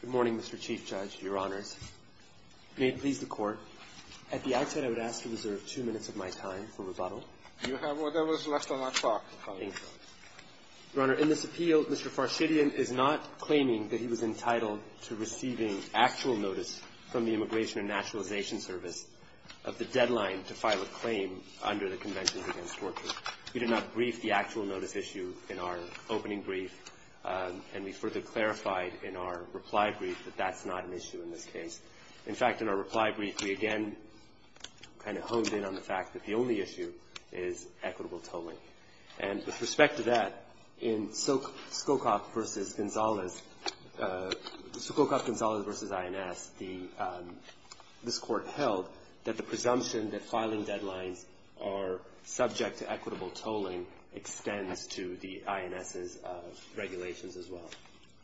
Good morning, Mr. Chief Judge, Your Honors. May it please the Court, at the outset I would ask to reserve two minutes of my time for rebuttal. You have whatever is left on that clock. Your Honor, in this appeal, Mr. Farshidian is not claiming that he was entitled to receiving actual notice from the Immigration and Naturalization Service of the deadline to file a claim under the Conventions Against Torture. We did not brief the actual notice issue in our opening brief, and we further clarified in our reply brief that that's not an issue in this case. In fact, in our reply brief, we again kind of honed in on the fact that the only issue is equitable tolling. And with respect to that, in Sukhokoff v. Gonzalez, Sukhokoff-Gonzalez v. INS, this Court held that the presumption that filing deadlines are subject to equitable tolling extends to the INS's regulations as well.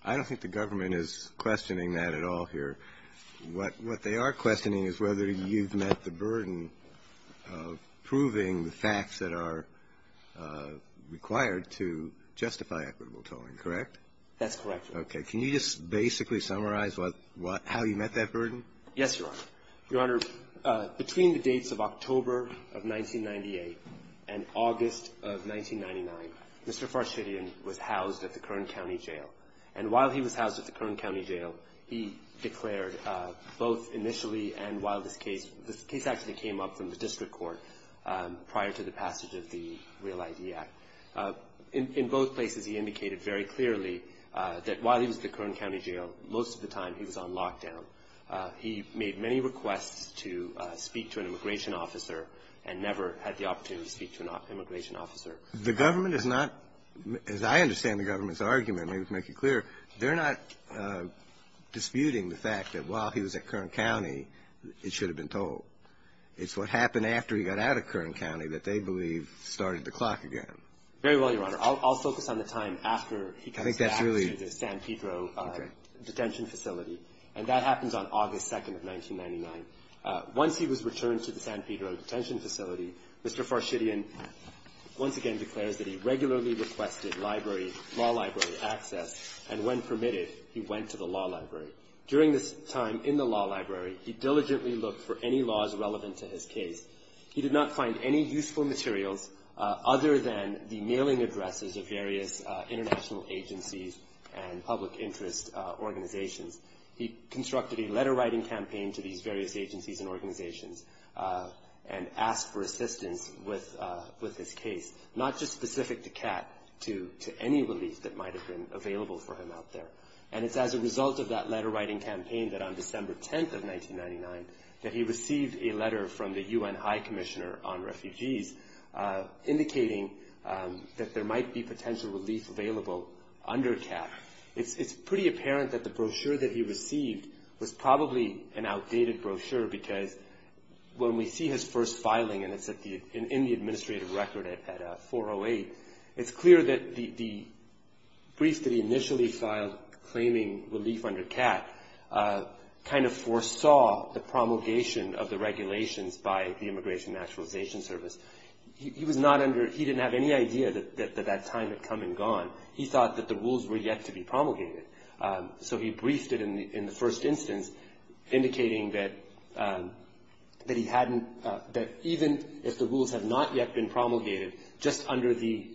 I don't think the government is questioning that at all here. What they are questioning is whether you've met the burden of proving the facts that are required to justify equitable tolling, correct? That's correct, Your Honor. Okay. Can you just basically summarize how you met that burden? Yes, Your Honor. Your Honor, between the dates of October of 1998 and August of 1999, Mr. Farshidian was housed at the Kern County Jail. And while he was housed at the Kern County Jail, he declared both initially and while this case – this case actually came up from the district court prior to the passage of the Real ID Act. In both places, he indicated very clearly that while he was at the Kern County Jail, most of the time he was on lockdown. He made many requests to speak to an immigration officer and never had the opportunity to speak to an immigration officer. The government is not – as I understand the government's argument, maybe to make it clear, they're not disputing the fact that while he was at Kern County, it should have been tolled. It's what happened after he got out of Kern County that they believe started the clock again. Very well, Your Honor. I'll focus on the time after he comes back to the San Pedro detention facility. And that happens on August 2nd of 1999. Once he was returned to the San Pedro detention facility, Mr. Farshidian once again declares that he regularly requested library – law library access, and when permitted, he went to the law library. During this time in the law library, he diligently looked for any laws relevant to his case. He did not find any useful materials other than the mailing addresses of various international agencies and public interest organizations. He constructed a letter-writing campaign to these various agencies and organizations and asked for assistance with his case, not just specific to CAT, to any relief that might have been available for him out there. And it's as a result of that letter-writing campaign that on December 10th of 1999, that he received a letter from the UN High Commissioner on Refugees, indicating that there might be potential relief available under CAT. It's pretty apparent that the brochure that he received was probably an outdated brochure because when we see his first filing, and it's in the administrative record at 408, it's clear that the brief that he initially filed claiming relief under CAT kind of foresaw the promulgation of the regulations by the Immigration and Naturalization Service. He was not under – he didn't have any idea that that time had come and gone. He thought that the rules were yet to be promulgated. So he briefed it in the first instance, indicating that he hadn't – that even if the rules have not yet been promulgated, just under the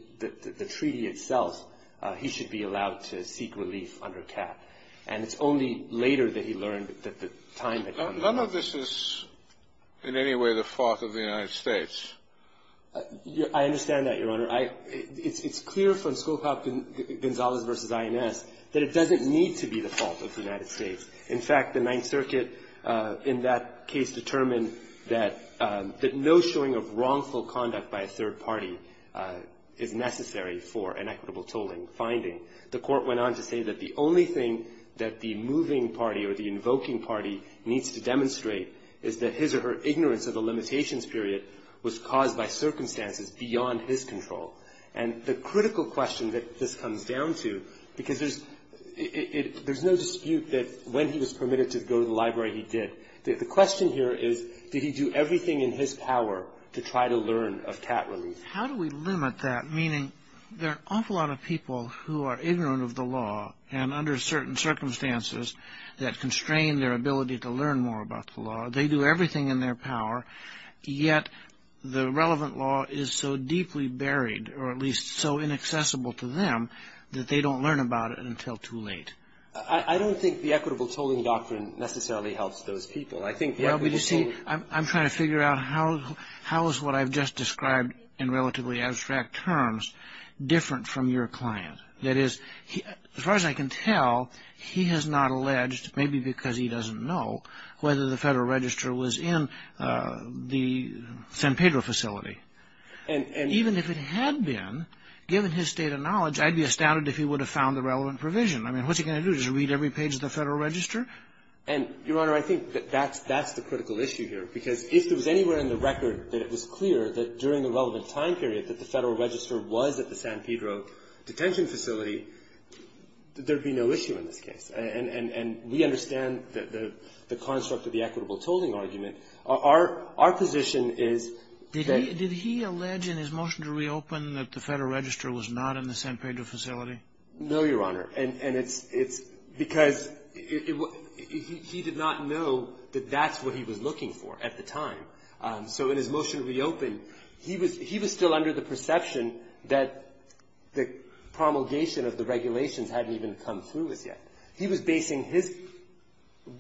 treaty itself, he should be allowed to seek relief under CAT. And it's only later that he learned that the time had come. None of this is in any way the fault of the United States. I understand that, Your Honor. I – it's clear from Scowcroft-Gonzalez v. INS that it doesn't need to be the fault of the United States. In fact, the Ninth Circuit in that case determined that no showing of wrongful conduct by a third party is necessary for an equitable tolling finding. The Court went on to say that the only thing that the moving party or the invoking party needs to demonstrate is that his or her ignorance of the limitations period was caused by circumstances beyond his control. And the critical question that this comes down to, because there's – there's no dispute that when he was permitted to go to the library, he did. The question here is, did he do everything in his power to try to learn of CAT relief? How do we limit that? Meaning there are an awful lot of people who are ignorant of the law and under certain circumstances that constrain their ability to learn more about the law. They do everything in their power, yet the relevant law is so deeply buried or at least so inaccessible to them that they don't learn about it until too late. I don't think the equitable tolling doctrine necessarily helps those people. I think the equitable tolling – Well, you see, I'm trying to figure out how is what I've just described in relatively abstract terms different from your client. That is, as far as I can tell, he has not alleged, maybe because he doesn't know, whether the Federal Register was in the San Pedro facility. And even if it had been, given his state of knowledge, I'd be astounded if he would have found the relevant provision. I mean, what's he going to do, just read every page of the Federal Register? And, Your Honor, I think that that's – that's the critical issue here. Because if there was anywhere in the record that it was clear that during the relevant time period that the Federal Register was at the San Pedro detention facility, there would be no issue in this case. And we understand the construct of the equitable tolling argument. Our position is that – Did he allege in his motion to reopen that the Federal Register was not in the San Pedro facility? No, Your Honor. And it's because he did not know that that's what he was looking for at the time. So in his motion to reopen, he was – he was still under the perception that the promulgation of the regulations hadn't even come through as yet. He was basing his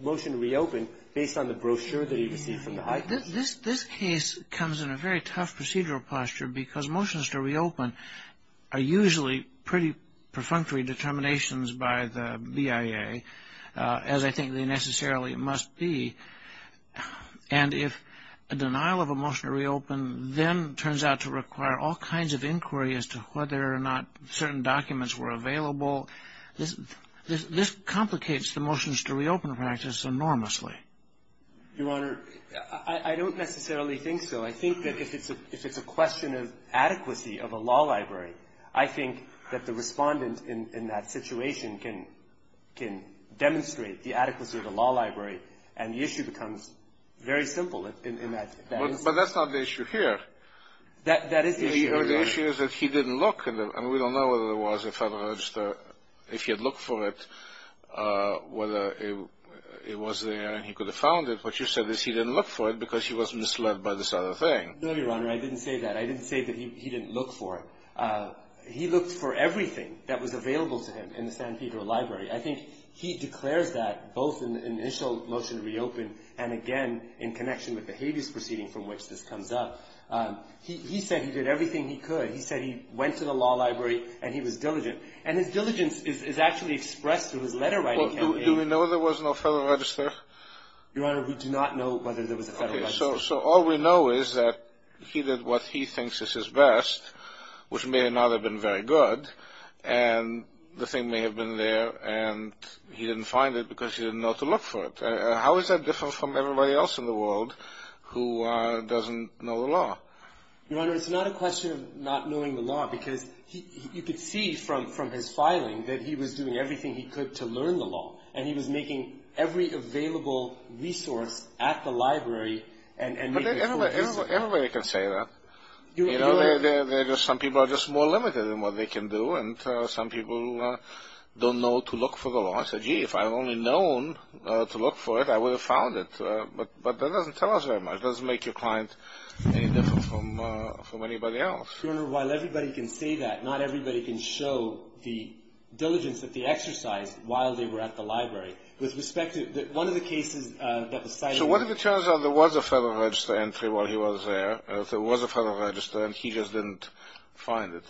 motion to reopen based on the brochure that he received from the high court. This case comes in a very tough procedural posture because motions to reopen are usually pretty perfunctory determinations by the BIA, as I think they necessarily must be. And if a denial of a motion to reopen then turns out to require all kinds of inquiry as to whether or not certain documents were available, this complicates the motions to reopen practice enormously. Your Honor, I don't necessarily think so. I think that if it's a question of adequacy of a law library, I think that the respondent in that situation can demonstrate the adequacy of a law library and the issue becomes very simple in that instance. But that's not the issue here. That is the issue, Your Honor. The issue is that he didn't look. And we don't know whether there was a Federal Register, if he had looked for it, whether it was there and he could have found it. What you said is he didn't look for it because he was misled by this other thing. No, Your Honor. I didn't say that. I didn't say that he didn't look for it. He looked for everything that was available to him in the San Pedro Library. I think he declares that both in the initial motion to reopen and, again, in connection with the habeas proceeding from which this comes up. He said he did everything he could. He said he went to the law library and he was diligent. And his diligence is actually expressed through his letter writing. Do we know there was no Federal Register? Your Honor, we do not know whether there was a Federal Register. Okay. So all we know is that he did what he thinks is his best, which may or may not have been very good, and the thing may have been there, and he didn't find it because he didn't know to look for it. How is that different from everybody else in the world who doesn't know the law? Your Honor, it's not a question of not knowing the law because you could see from his filing that he was doing everything he could to learn the law, and he was making every available resource at the library and making full use of it. Everybody can say that. Some people are just more limited in what they can do, and some people don't know to look for the law. I said, gee, if I had only known to look for it, I would have found it. But that doesn't tell us very much. It doesn't make your client any different from anybody else. Your Honor, while everybody can say that, not everybody can show the diligence that they exercised while they were at the library. With respect to one of the cases that was cited. So what if it turns out there was a Federal Register entry while he was there, so it was a Federal Register, and he just didn't find it?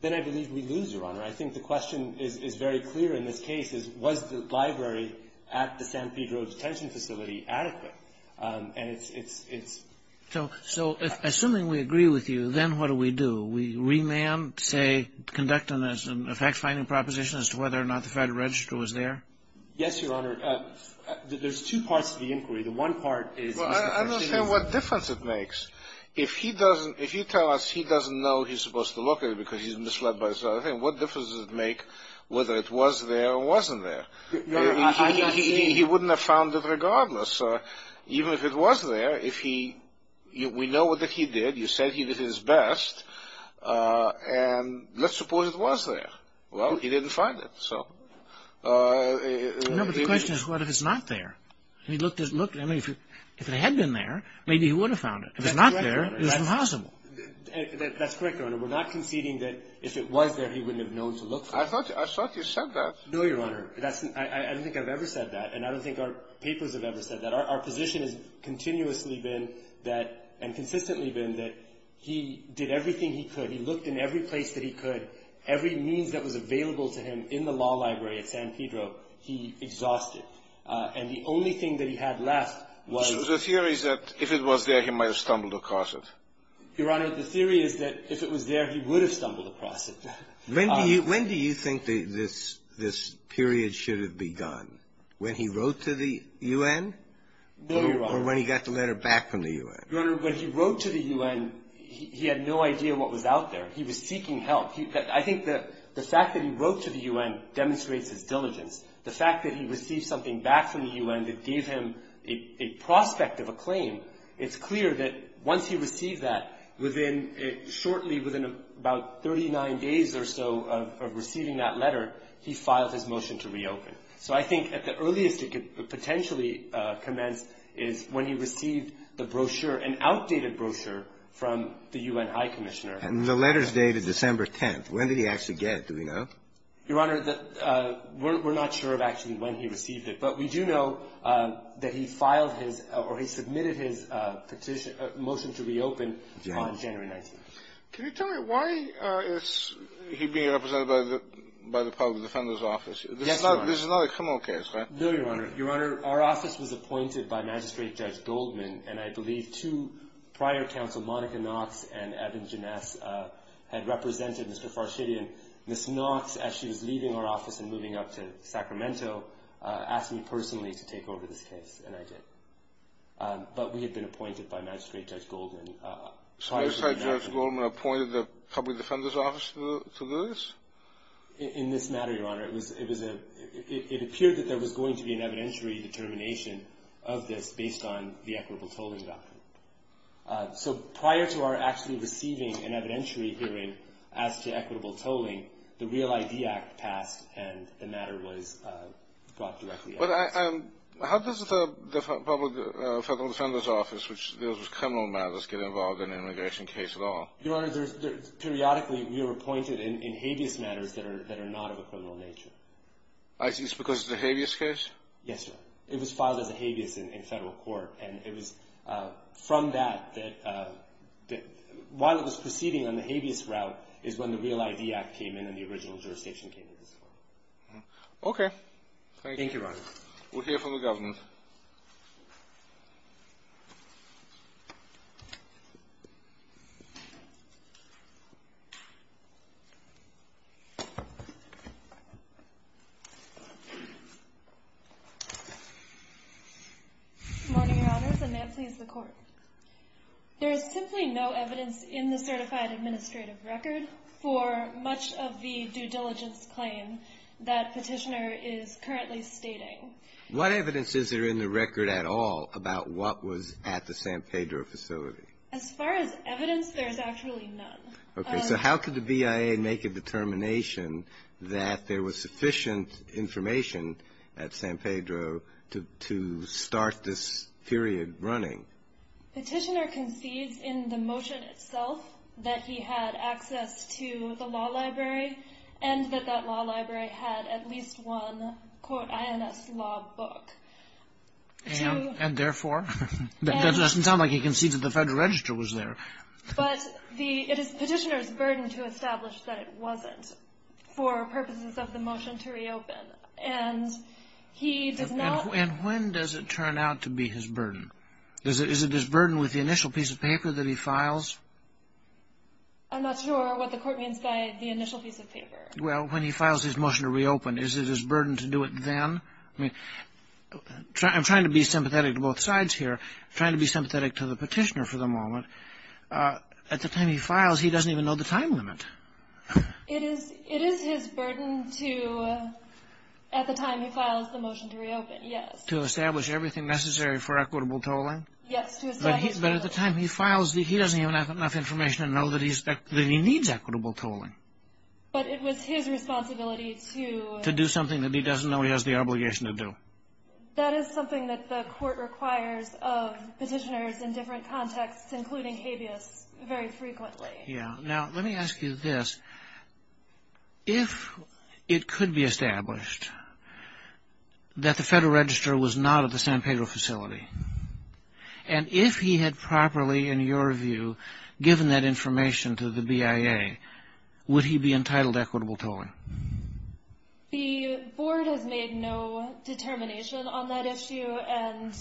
Then I believe we lose, Your Honor. I think the question is very clear in this case. Was the library at the San Pedro detention facility adequate? And it's... So assuming we agree with you, then what do we do? We remand, say, conduct a fact-finding proposition as to whether or not the Federal Register was there? Yes, Your Honor. There's two parts to the inquiry. The one part is... I don't understand what difference it makes. If he doesn't... If you tell us he doesn't know he's supposed to look at it because he's misled by this other thing, what difference does it make whether it was there or wasn't there? He wouldn't have found it regardless. Even if it was there, if he... We know what he did. You said he did his best. And let's suppose it was there. Well, he didn't find it, so... No, but the question is what if it's not there? I mean, if it had been there, maybe he would have found it. If it's not there, it's impossible. That's correct, Your Honor. We're not conceding that if it was there, he wouldn't have known to look for it. I thought you said that. No, Your Honor. I don't think I've ever said that, and I don't think our papers have ever said that. Our position has continuously been that and consistently been that he did everything he could. He looked in every place that he could. Every means that was available to him in the law library at San Pedro, he exhausted. And the only thing that he had left was... So the theory is that if it was there, he might have stumbled across it. Your Honor, the theory is that if it was there, he would have stumbled across it. When do you think this period should have begun? When he wrote to the U.N.? No, Your Honor. Or when he got the letter back from the U.N.? Your Honor, when he wrote to the U.N., he had no idea what was out there. He was seeking help. I think the fact that he wrote to the U.N. demonstrates his diligence. The fact that he received something back from the U.N. that gave him a prospect of a claim, it's clear that once he received that, within shortly, within about 39 days or so of receiving that letter, he filed his motion to reopen. So I think at the earliest it could potentially commence is when he received the brochure, an outdated brochure, from the U.N. High Commissioner. And the letter's dated December 10th. When did he actually get it? Do we know? Your Honor, we're not sure of actually when he received it. But we do know that he filed his or he submitted his petition, motion to reopen on January 19th. Can you tell me why is he being represented by the public defender's office? Yes, Your Honor. This is not a criminal case, right? No, Your Honor. Your Honor, our office was appointed by Magistrate Judge Goldman, and I believe two prior counsel, Monica Knox and Evan Janess, had represented Mr. Farshidian. Ms. Knox, as she was leaving our office and moving up to Sacramento, asked me personally to take over this case, and I did. But we had been appointed by Magistrate Judge Goldman prior to that. So Magistrate Judge Goldman appointed the public defender's office to do this? In this matter, Your Honor, it appeared that there was going to be an evidentiary determination of this based on the equitable tolling doctrine. So prior to our actually receiving an evidentiary hearing as to equitable tolling, the Real ID Act passed and the matter was brought directly up. But how does the public defender's office, which deals with criminal matters, get involved in an immigration case at all? Your Honor, periodically we were appointed in habeas matters that are not of a criminal nature. I see. It's because it's a habeas case? Yes, Your Honor. It was filed as a habeas in federal court, and it was from that that while it was proceeding on the habeas route is when the Real ID Act came in and the original jurisdiction came into this court. Thank you. Thank you, Your Honor. We'll hear from the government. Good morning, Your Honors, and may it please the Court. There is simply no evidence in the certified administrative record for much of the due diligence claim that Petitioner is currently stating. What evidence is there in the record at all about what was at the San Pedro facility? As far as evidence, there is actually none. Okay. So how could the BIA make a determination that there was sufficient information at San Pedro to start this period running? Petitioner concedes in the motion itself that he had access to the law library and that that law library had at least one, quote, INS law book. And therefore? That doesn't sound like he concedes that the Federal Register was there. But it is Petitioner's burden to establish that it wasn't for purposes of the motion to reopen. And he did not... And when does it turn out to be his burden? Is it his burden with the initial piece of paper that he files? I'm not sure what the Court means by the initial piece of paper. Well, when he files his motion to reopen, is it his burden to do it then? I'm trying to be sympathetic to both sides here. I'm trying to be sympathetic to the Petitioner for the moment. At the time he files, he doesn't even know the time limit. It is his burden to, at the time he files the motion to reopen, yes. To establish everything necessary for equitable tolling? Yes. But at the time he files, he doesn't even have enough information to know that he needs equitable tolling. But it was his responsibility to... That is something that the Court requires of Petitioners in different contexts, including habeas, very frequently. Yeah. Now, let me ask you this. If it could be established that the Federal Register was not at the San Pedro facility, and if he had properly, in your view, given that information to the BIA, would he be entitled to equitable tolling? The Board has made no determination on that issue, and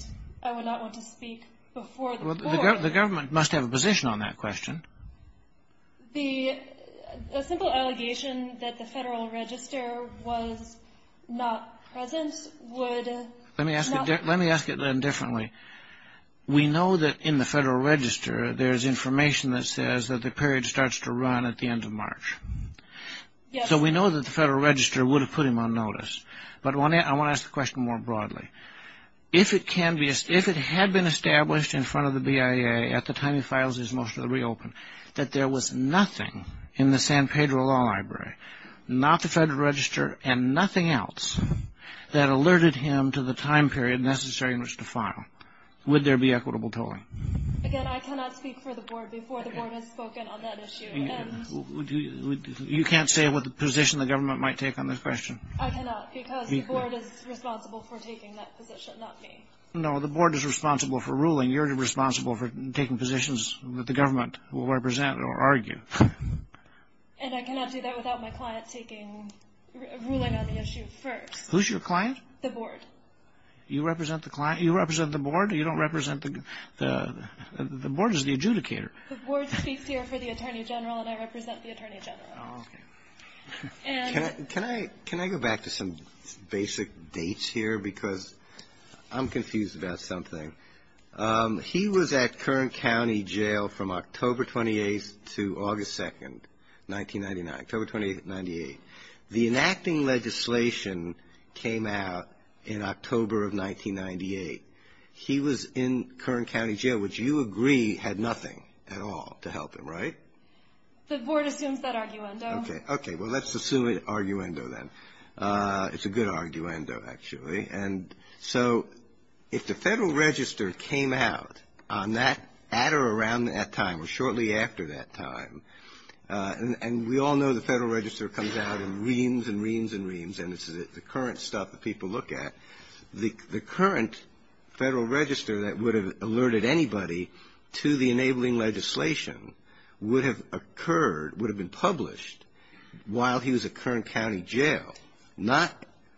I would not want to speak before the Board. Well, the government must have a position on that question. A simple allegation that the Federal Register was not present would... Let me ask it then differently. We know that in the Federal Register there is information that says that the period starts to run at the end of March. Yes. So we know that the Federal Register would have put him on notice. But I want to ask the question more broadly. If it had been established in front of the BIA at the time he files his motion to reopen that there was nothing in the San Pedro Law Library, not the Federal Register and nothing else, that alerted him to the time period necessary in which to file, would there be equitable tolling? Again, I cannot speak for the Board before the Board has spoken on that issue. You can't say what position the government might take on this question? I cannot, because the Board is responsible for taking that position, not me. No, the Board is responsible for ruling. You're responsible for taking positions that the government will represent or argue. And I cannot do that without my client ruling on the issue first. Who's your client? The Board. You represent the client? You represent the Board? You don't represent the... The Board is the adjudicator. The Board speaks here for the Attorney General, and I represent the Attorney General. Oh, okay. And... Can I go back to some basic dates here? Because I'm confused about something. He was at Kern County Jail from October 28th to August 2nd, 1999, October 28th, 1998. The enacting legislation came out in October of 1998. He was in Kern County Jail, which you agree had nothing at all to help him, right? The Board assumes that arguendo. Okay. Well, let's assume an arguendo then. It's a good arguendo, actually. And so if the Federal Register came out on that, at or around that time, or shortly after that time, and we all know the Federal Register comes out in reams and reams and reams, and it's the current stuff that people look at, the current Federal Register that would have alerted anybody to the enabling legislation would have occurred, would have been published while he was at Kern County Jail, not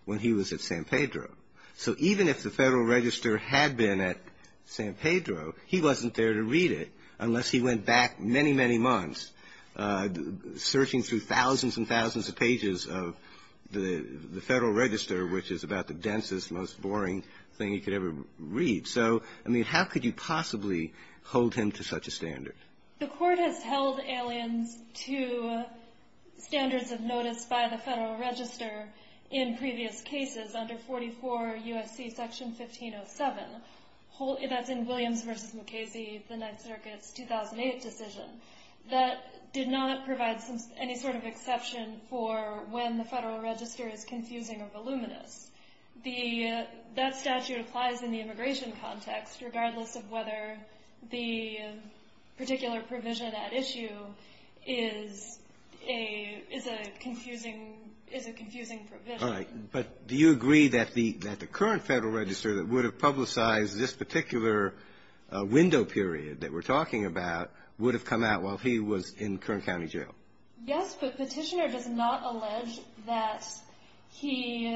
when he was at San Pedro. So even if the Federal Register had been at San Pedro, he wasn't there to read it unless he went back many, many months, searching through thousands and thousands of pages of the Federal Register, which is about the densest, most boring thing you could ever read. So, I mean, how could you possibly hold him to such a standard? The Court has held aliens to standards of notice by the Federal Register in previous cases under 44 U.S.C. Section 1507, that's in Williams v. Mukasey, the Ninth Circuit's 2008 decision. That did not provide any sort of exception for when the Federal Register is confusing or voluminous. That statute applies in the immigration context, regardless of whether the particular provision at issue is a confusing provision. All right, but do you agree that the current Federal Register that would have publicized this particular window period that we're talking about would have come out while he was in Kern County Jail? Yes, but Petitioner does not allege that he,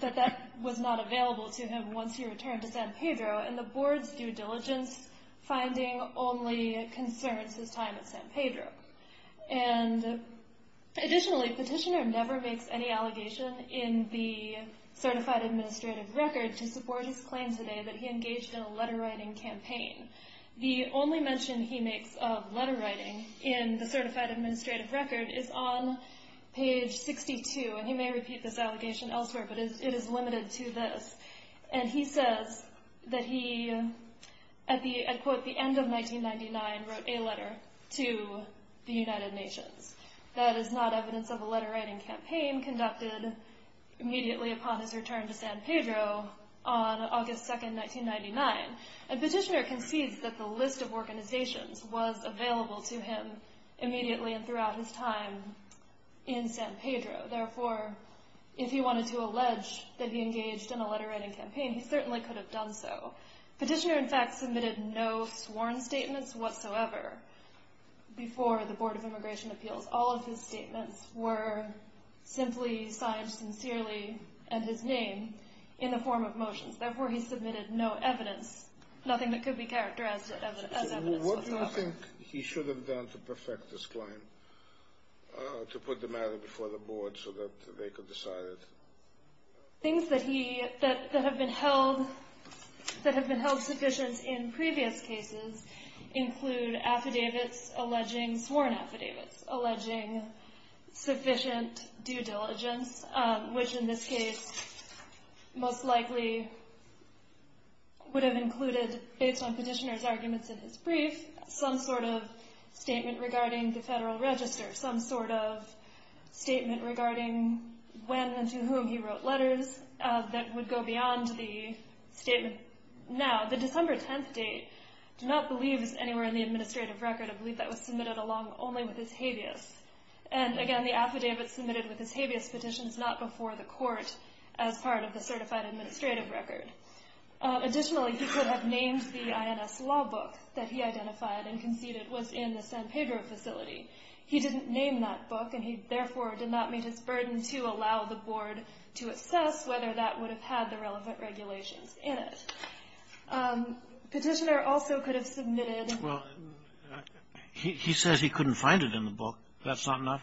that that was not available to him once he returned to San Pedro, and the Board's due diligence finding only concerns his time at San Pedro. And additionally, Petitioner never makes any allegation in the Certified Administrative Record to support his claim today that he engaged in a letter-writing campaign. The only mention he makes of letter-writing in the Certified Administrative Record is on page 62, and he may repeat this allegation elsewhere, but it is limited to this. And he says that he, at the, I'd quote, the end of 1999, wrote a letter to the United Nations. That is not evidence of a letter-writing campaign conducted immediately upon his return to San Pedro on August 2, 1999. And Petitioner concedes that the list of organizations was available to him immediately and throughout his time in San Pedro. Therefore, if he wanted to allege that he engaged in a letter-writing campaign, he certainly could have done so. Petitioner, in fact, submitted no sworn statements whatsoever before the Board of Immigration Appeals. All of his statements were simply signed sincerely, and his name, in the form of motions. Therefore, he submitted no evidence, nothing that could be characterized as evidence whatsoever. What do you think he should have done to perfect this claim, to put the matter before the Board so that they could decide it? Things that have been held sufficient in previous cases include affidavits alleging, sworn affidavits alleging sufficient due diligence, which, in this case, most likely would have included, based on Petitioner's arguments in his brief, some sort of statement regarding the Federal Register, some sort of statement regarding when and to whom he wrote letters, that would go beyond the statement now. The December 10th date, I do not believe is anywhere in the administrative record. I believe that was submitted along only with his habeas. And, again, the affidavit submitted with his habeas petition is not before the Court as part of the certified administrative record. Additionally, he could have named the INS law book that he identified and conceded was in the San Pedro facility. He didn't name that book, and he, therefore, did not meet his burden to allow the Board to assess whether that would have had the relevant regulations in it. Petitioner also could have submitted — Well, he says he couldn't find it in the book. That's not enough?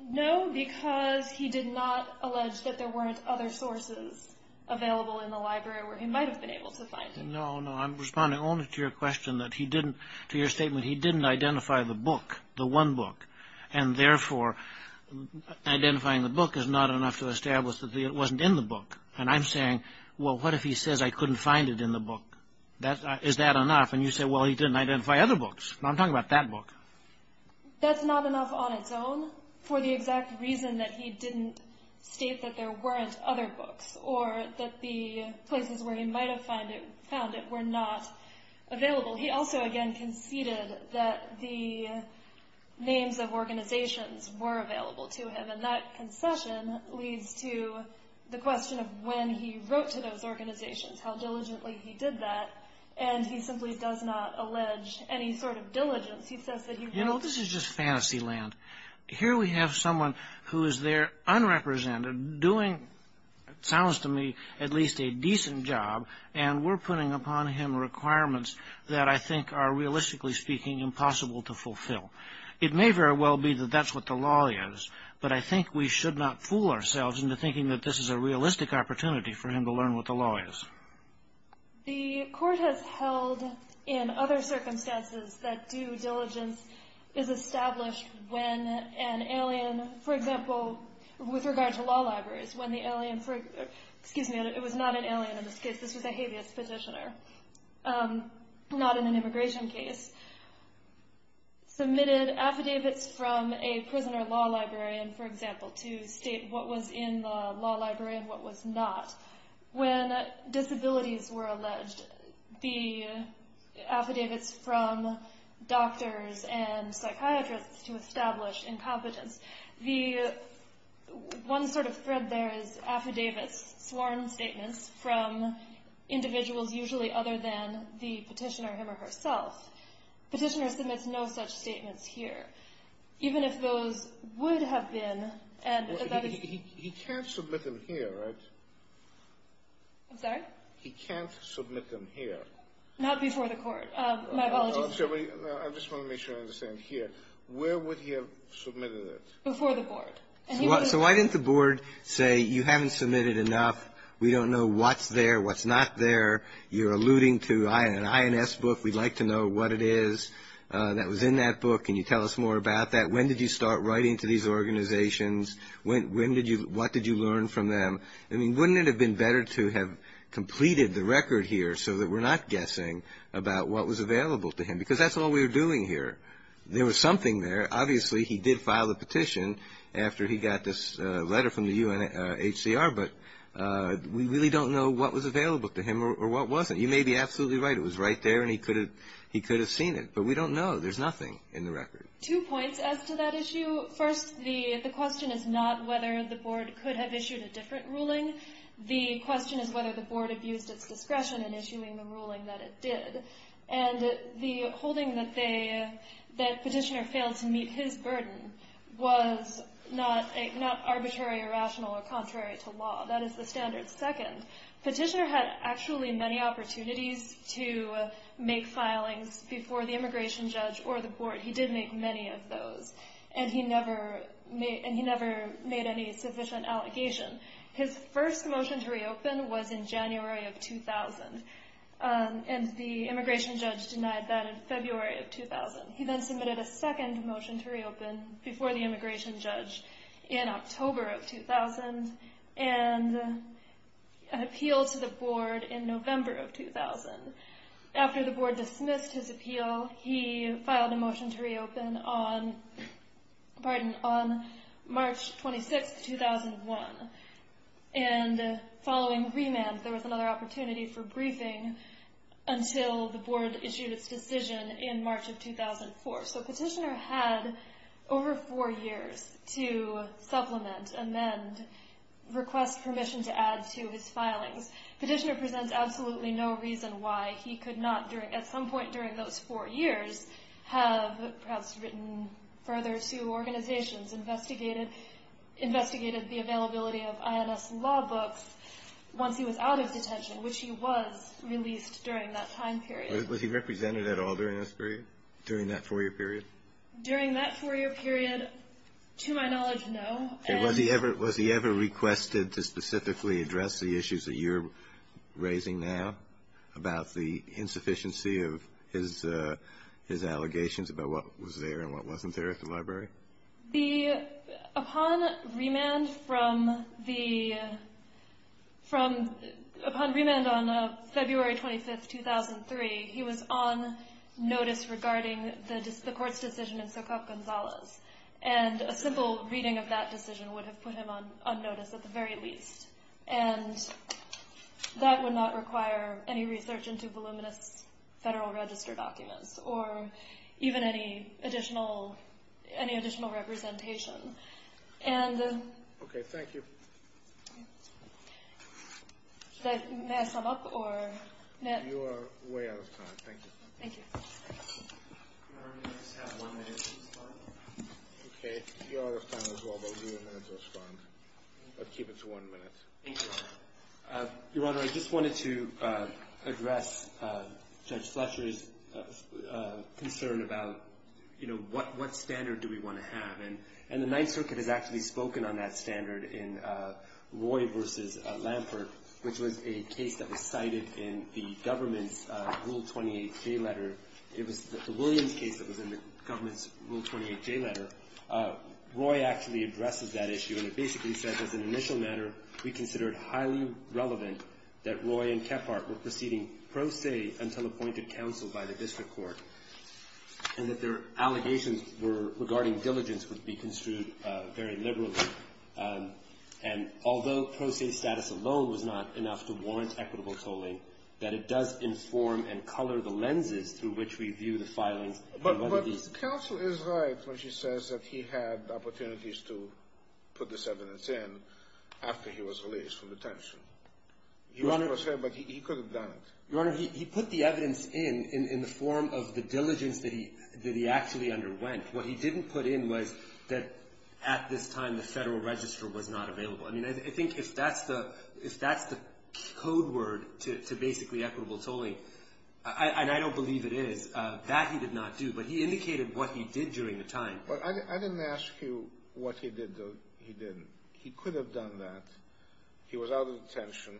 No, because he did not allege that there weren't other sources available in the library where he might have been able to find it. No, no. I'm responding only to your question that he didn't — to your statement he didn't identify the book, the one book, and, therefore, identifying the book is not enough to establish that it wasn't in the book. And I'm saying, well, what if he says, I couldn't find it in the book? Is that enough? And you say, well, he didn't identify other books. I'm talking about that book. That's not enough on its own for the exact reason that he didn't state that there weren't other books or that the places where he might have found it were not available. He also, again, conceded that the names of organizations were available to him, and that concession leads to the question of when he wrote to those organizations, how diligently he did that, and he simply does not allege any sort of diligence. He says that he wrote — You know, this is just fantasy land. Here we have someone who is there, unrepresented, doing, it sounds to me, at least a decent job, and we're putting upon him requirements that I think are, realistically speaking, impossible to fulfill. It may very well be that that's what the law is, but I think we should not fool ourselves into thinking that this is a realistic opportunity for him to learn what the law is. The court has held in other circumstances that due diligence is established when an alien — for example, with regard to law libraries, when the alien — excuse me, it was not an alien in this case. This was a habeas petitioner, not in an immigration case. Submitted affidavits from a prisoner law librarian, for example, to state what was in the law library and what was not. When disabilities were alleged, the affidavits from doctors and psychiatrists to establish incompetence. One sort of thread there is affidavits, sworn statements from individuals usually other than the petitioner him or herself. Petitioner submits no such statements here. Even if those would have been — He can't submit them here, right? I'm sorry? He can't submit them here. Not before the court. My apologies. I just want to make sure I understand here. Where would he have submitted it? Before the board. So why didn't the board say, you haven't submitted enough. We don't know what's there, what's not there. You're alluding to an INS book. We'd like to know what it is that was in that book. Can you tell us more about that? When did you start writing to these organizations? When did you — what did you learn from them? I mean, wouldn't it have been better to have completed the record here so that we're not guessing about what was available to him? Because that's all we were doing here. There was something there. Obviously, he did file a petition after he got this letter from the UNHCR. But we really don't know what was available to him or what wasn't. You may be absolutely right. It was right there, and he could have seen it. But we don't know. There's nothing in the record. Two points as to that issue. First, the question is not whether the board could have issued a different ruling. The question is whether the board abused its discretion in issuing the ruling that it did. And the holding that Petitioner failed to meet his burden was not arbitrary or rational or contrary to law. That is the standard. Second, Petitioner had actually many opportunities to make filings before the immigration judge or the board. He did make many of those. And he never made any sufficient allegation. His first motion to reopen was in January of 2000. And the immigration judge denied that in February of 2000. He then submitted a second motion to reopen before the immigration judge in October of 2000 and appealed to the board in November of 2000. After the board dismissed his appeal, he filed a motion to reopen on March 26, 2001. And following remand, there was another opportunity for briefing until the board issued its decision in March of 2004. So Petitioner had over four years to supplement, amend, request permission to add to his filings. Petitioner presents absolutely no reason why he could not, at some point during those four years, have perhaps written further to organizations, investigated the availability of INS law books once he was out of detention, which he was released during that time period. Was he represented at all during this period, during that four-year period? During that four-year period, to my knowledge, no. Was he ever requested to specifically address the issues that you're raising now about the insufficiency of his allegations about what was there and what wasn't there at the library? Upon remand on February 25, 2003, he was on notice regarding the court's decision in Sokoff-Gonzalez. And a simple reading of that decision would have put him on notice at the very least. And that would not require any research into voluminous Federal Register documents or even any additional representation. Okay, thank you. May I sum up? You are way out of time. Thank you. Thank you. Your Honor, may I just have one minute to respond? Okay, you are out of time as well, but we'll give you a minute to respond. I'll keep it to one minute. Thank you, Your Honor. Your Honor, I just wanted to address Judge Fletcher's concern about, you know, what standard do we want to have? And the Ninth Circuit has actually spoken on that standard in Roy v. Lampert, which was a case that was cited in the government's Rule 28J letter. It was the Williams case that was in the government's Rule 28J letter. Roy actually addresses that issue, and it basically says, as an initial matter, we consider it highly relevant that Roy and Kephart were proceeding pro se until appointed counsel by the district court, and that their allegations regarding diligence would be construed very liberally. And although pro se status alone was not enough to warrant equitable tolling, that it does inform and color the lenses through which we view the filings. But counsel is right when she says that he had opportunities to put this evidence in after he was released from detention. He was pro se, but he could have done it. Your Honor, he put the evidence in in the form of the diligence that he actually underwent. What he didn't put in was that at this time the Federal Register was not available. I mean, I think if that's the code word to basically equitable tolling, and I don't believe it is, that he did not do, but he indicated what he did during the time. I didn't ask you what he did, though. He didn't. He could have done that. He was out of detention,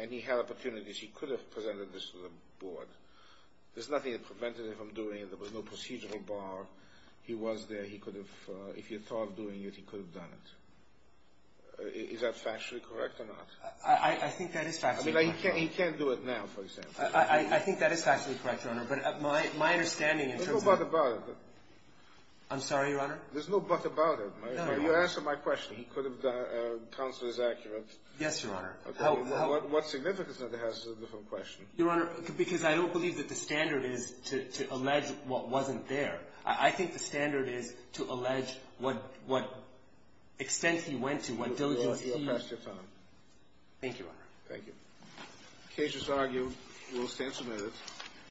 and he had opportunities. He could have presented this to the board. There's nothing that prevented him from doing it. There was no procedural bar. He was there. He could have, if he had thought of doing it, he could have done it. Is that factually correct or not? I think that is factually correct, Your Honor. I mean, he can't do it now, for example. I think that is factually correct, Your Honor. But my understanding in terms of the — There's no but about it. I'm sorry, Your Honor? There's no but about it. No, no, no. You answered my question. He could have done it. Counsel is accurate. Yes, Your Honor. What significance that has is a different question. Your Honor, because I don't believe that the standard is to allege what wasn't there. I think the standard is to allege what extent he went to, what diligence he — You are past your time. Thank you, Your Honor. Thank you. The case is argued. We'll stand submitted.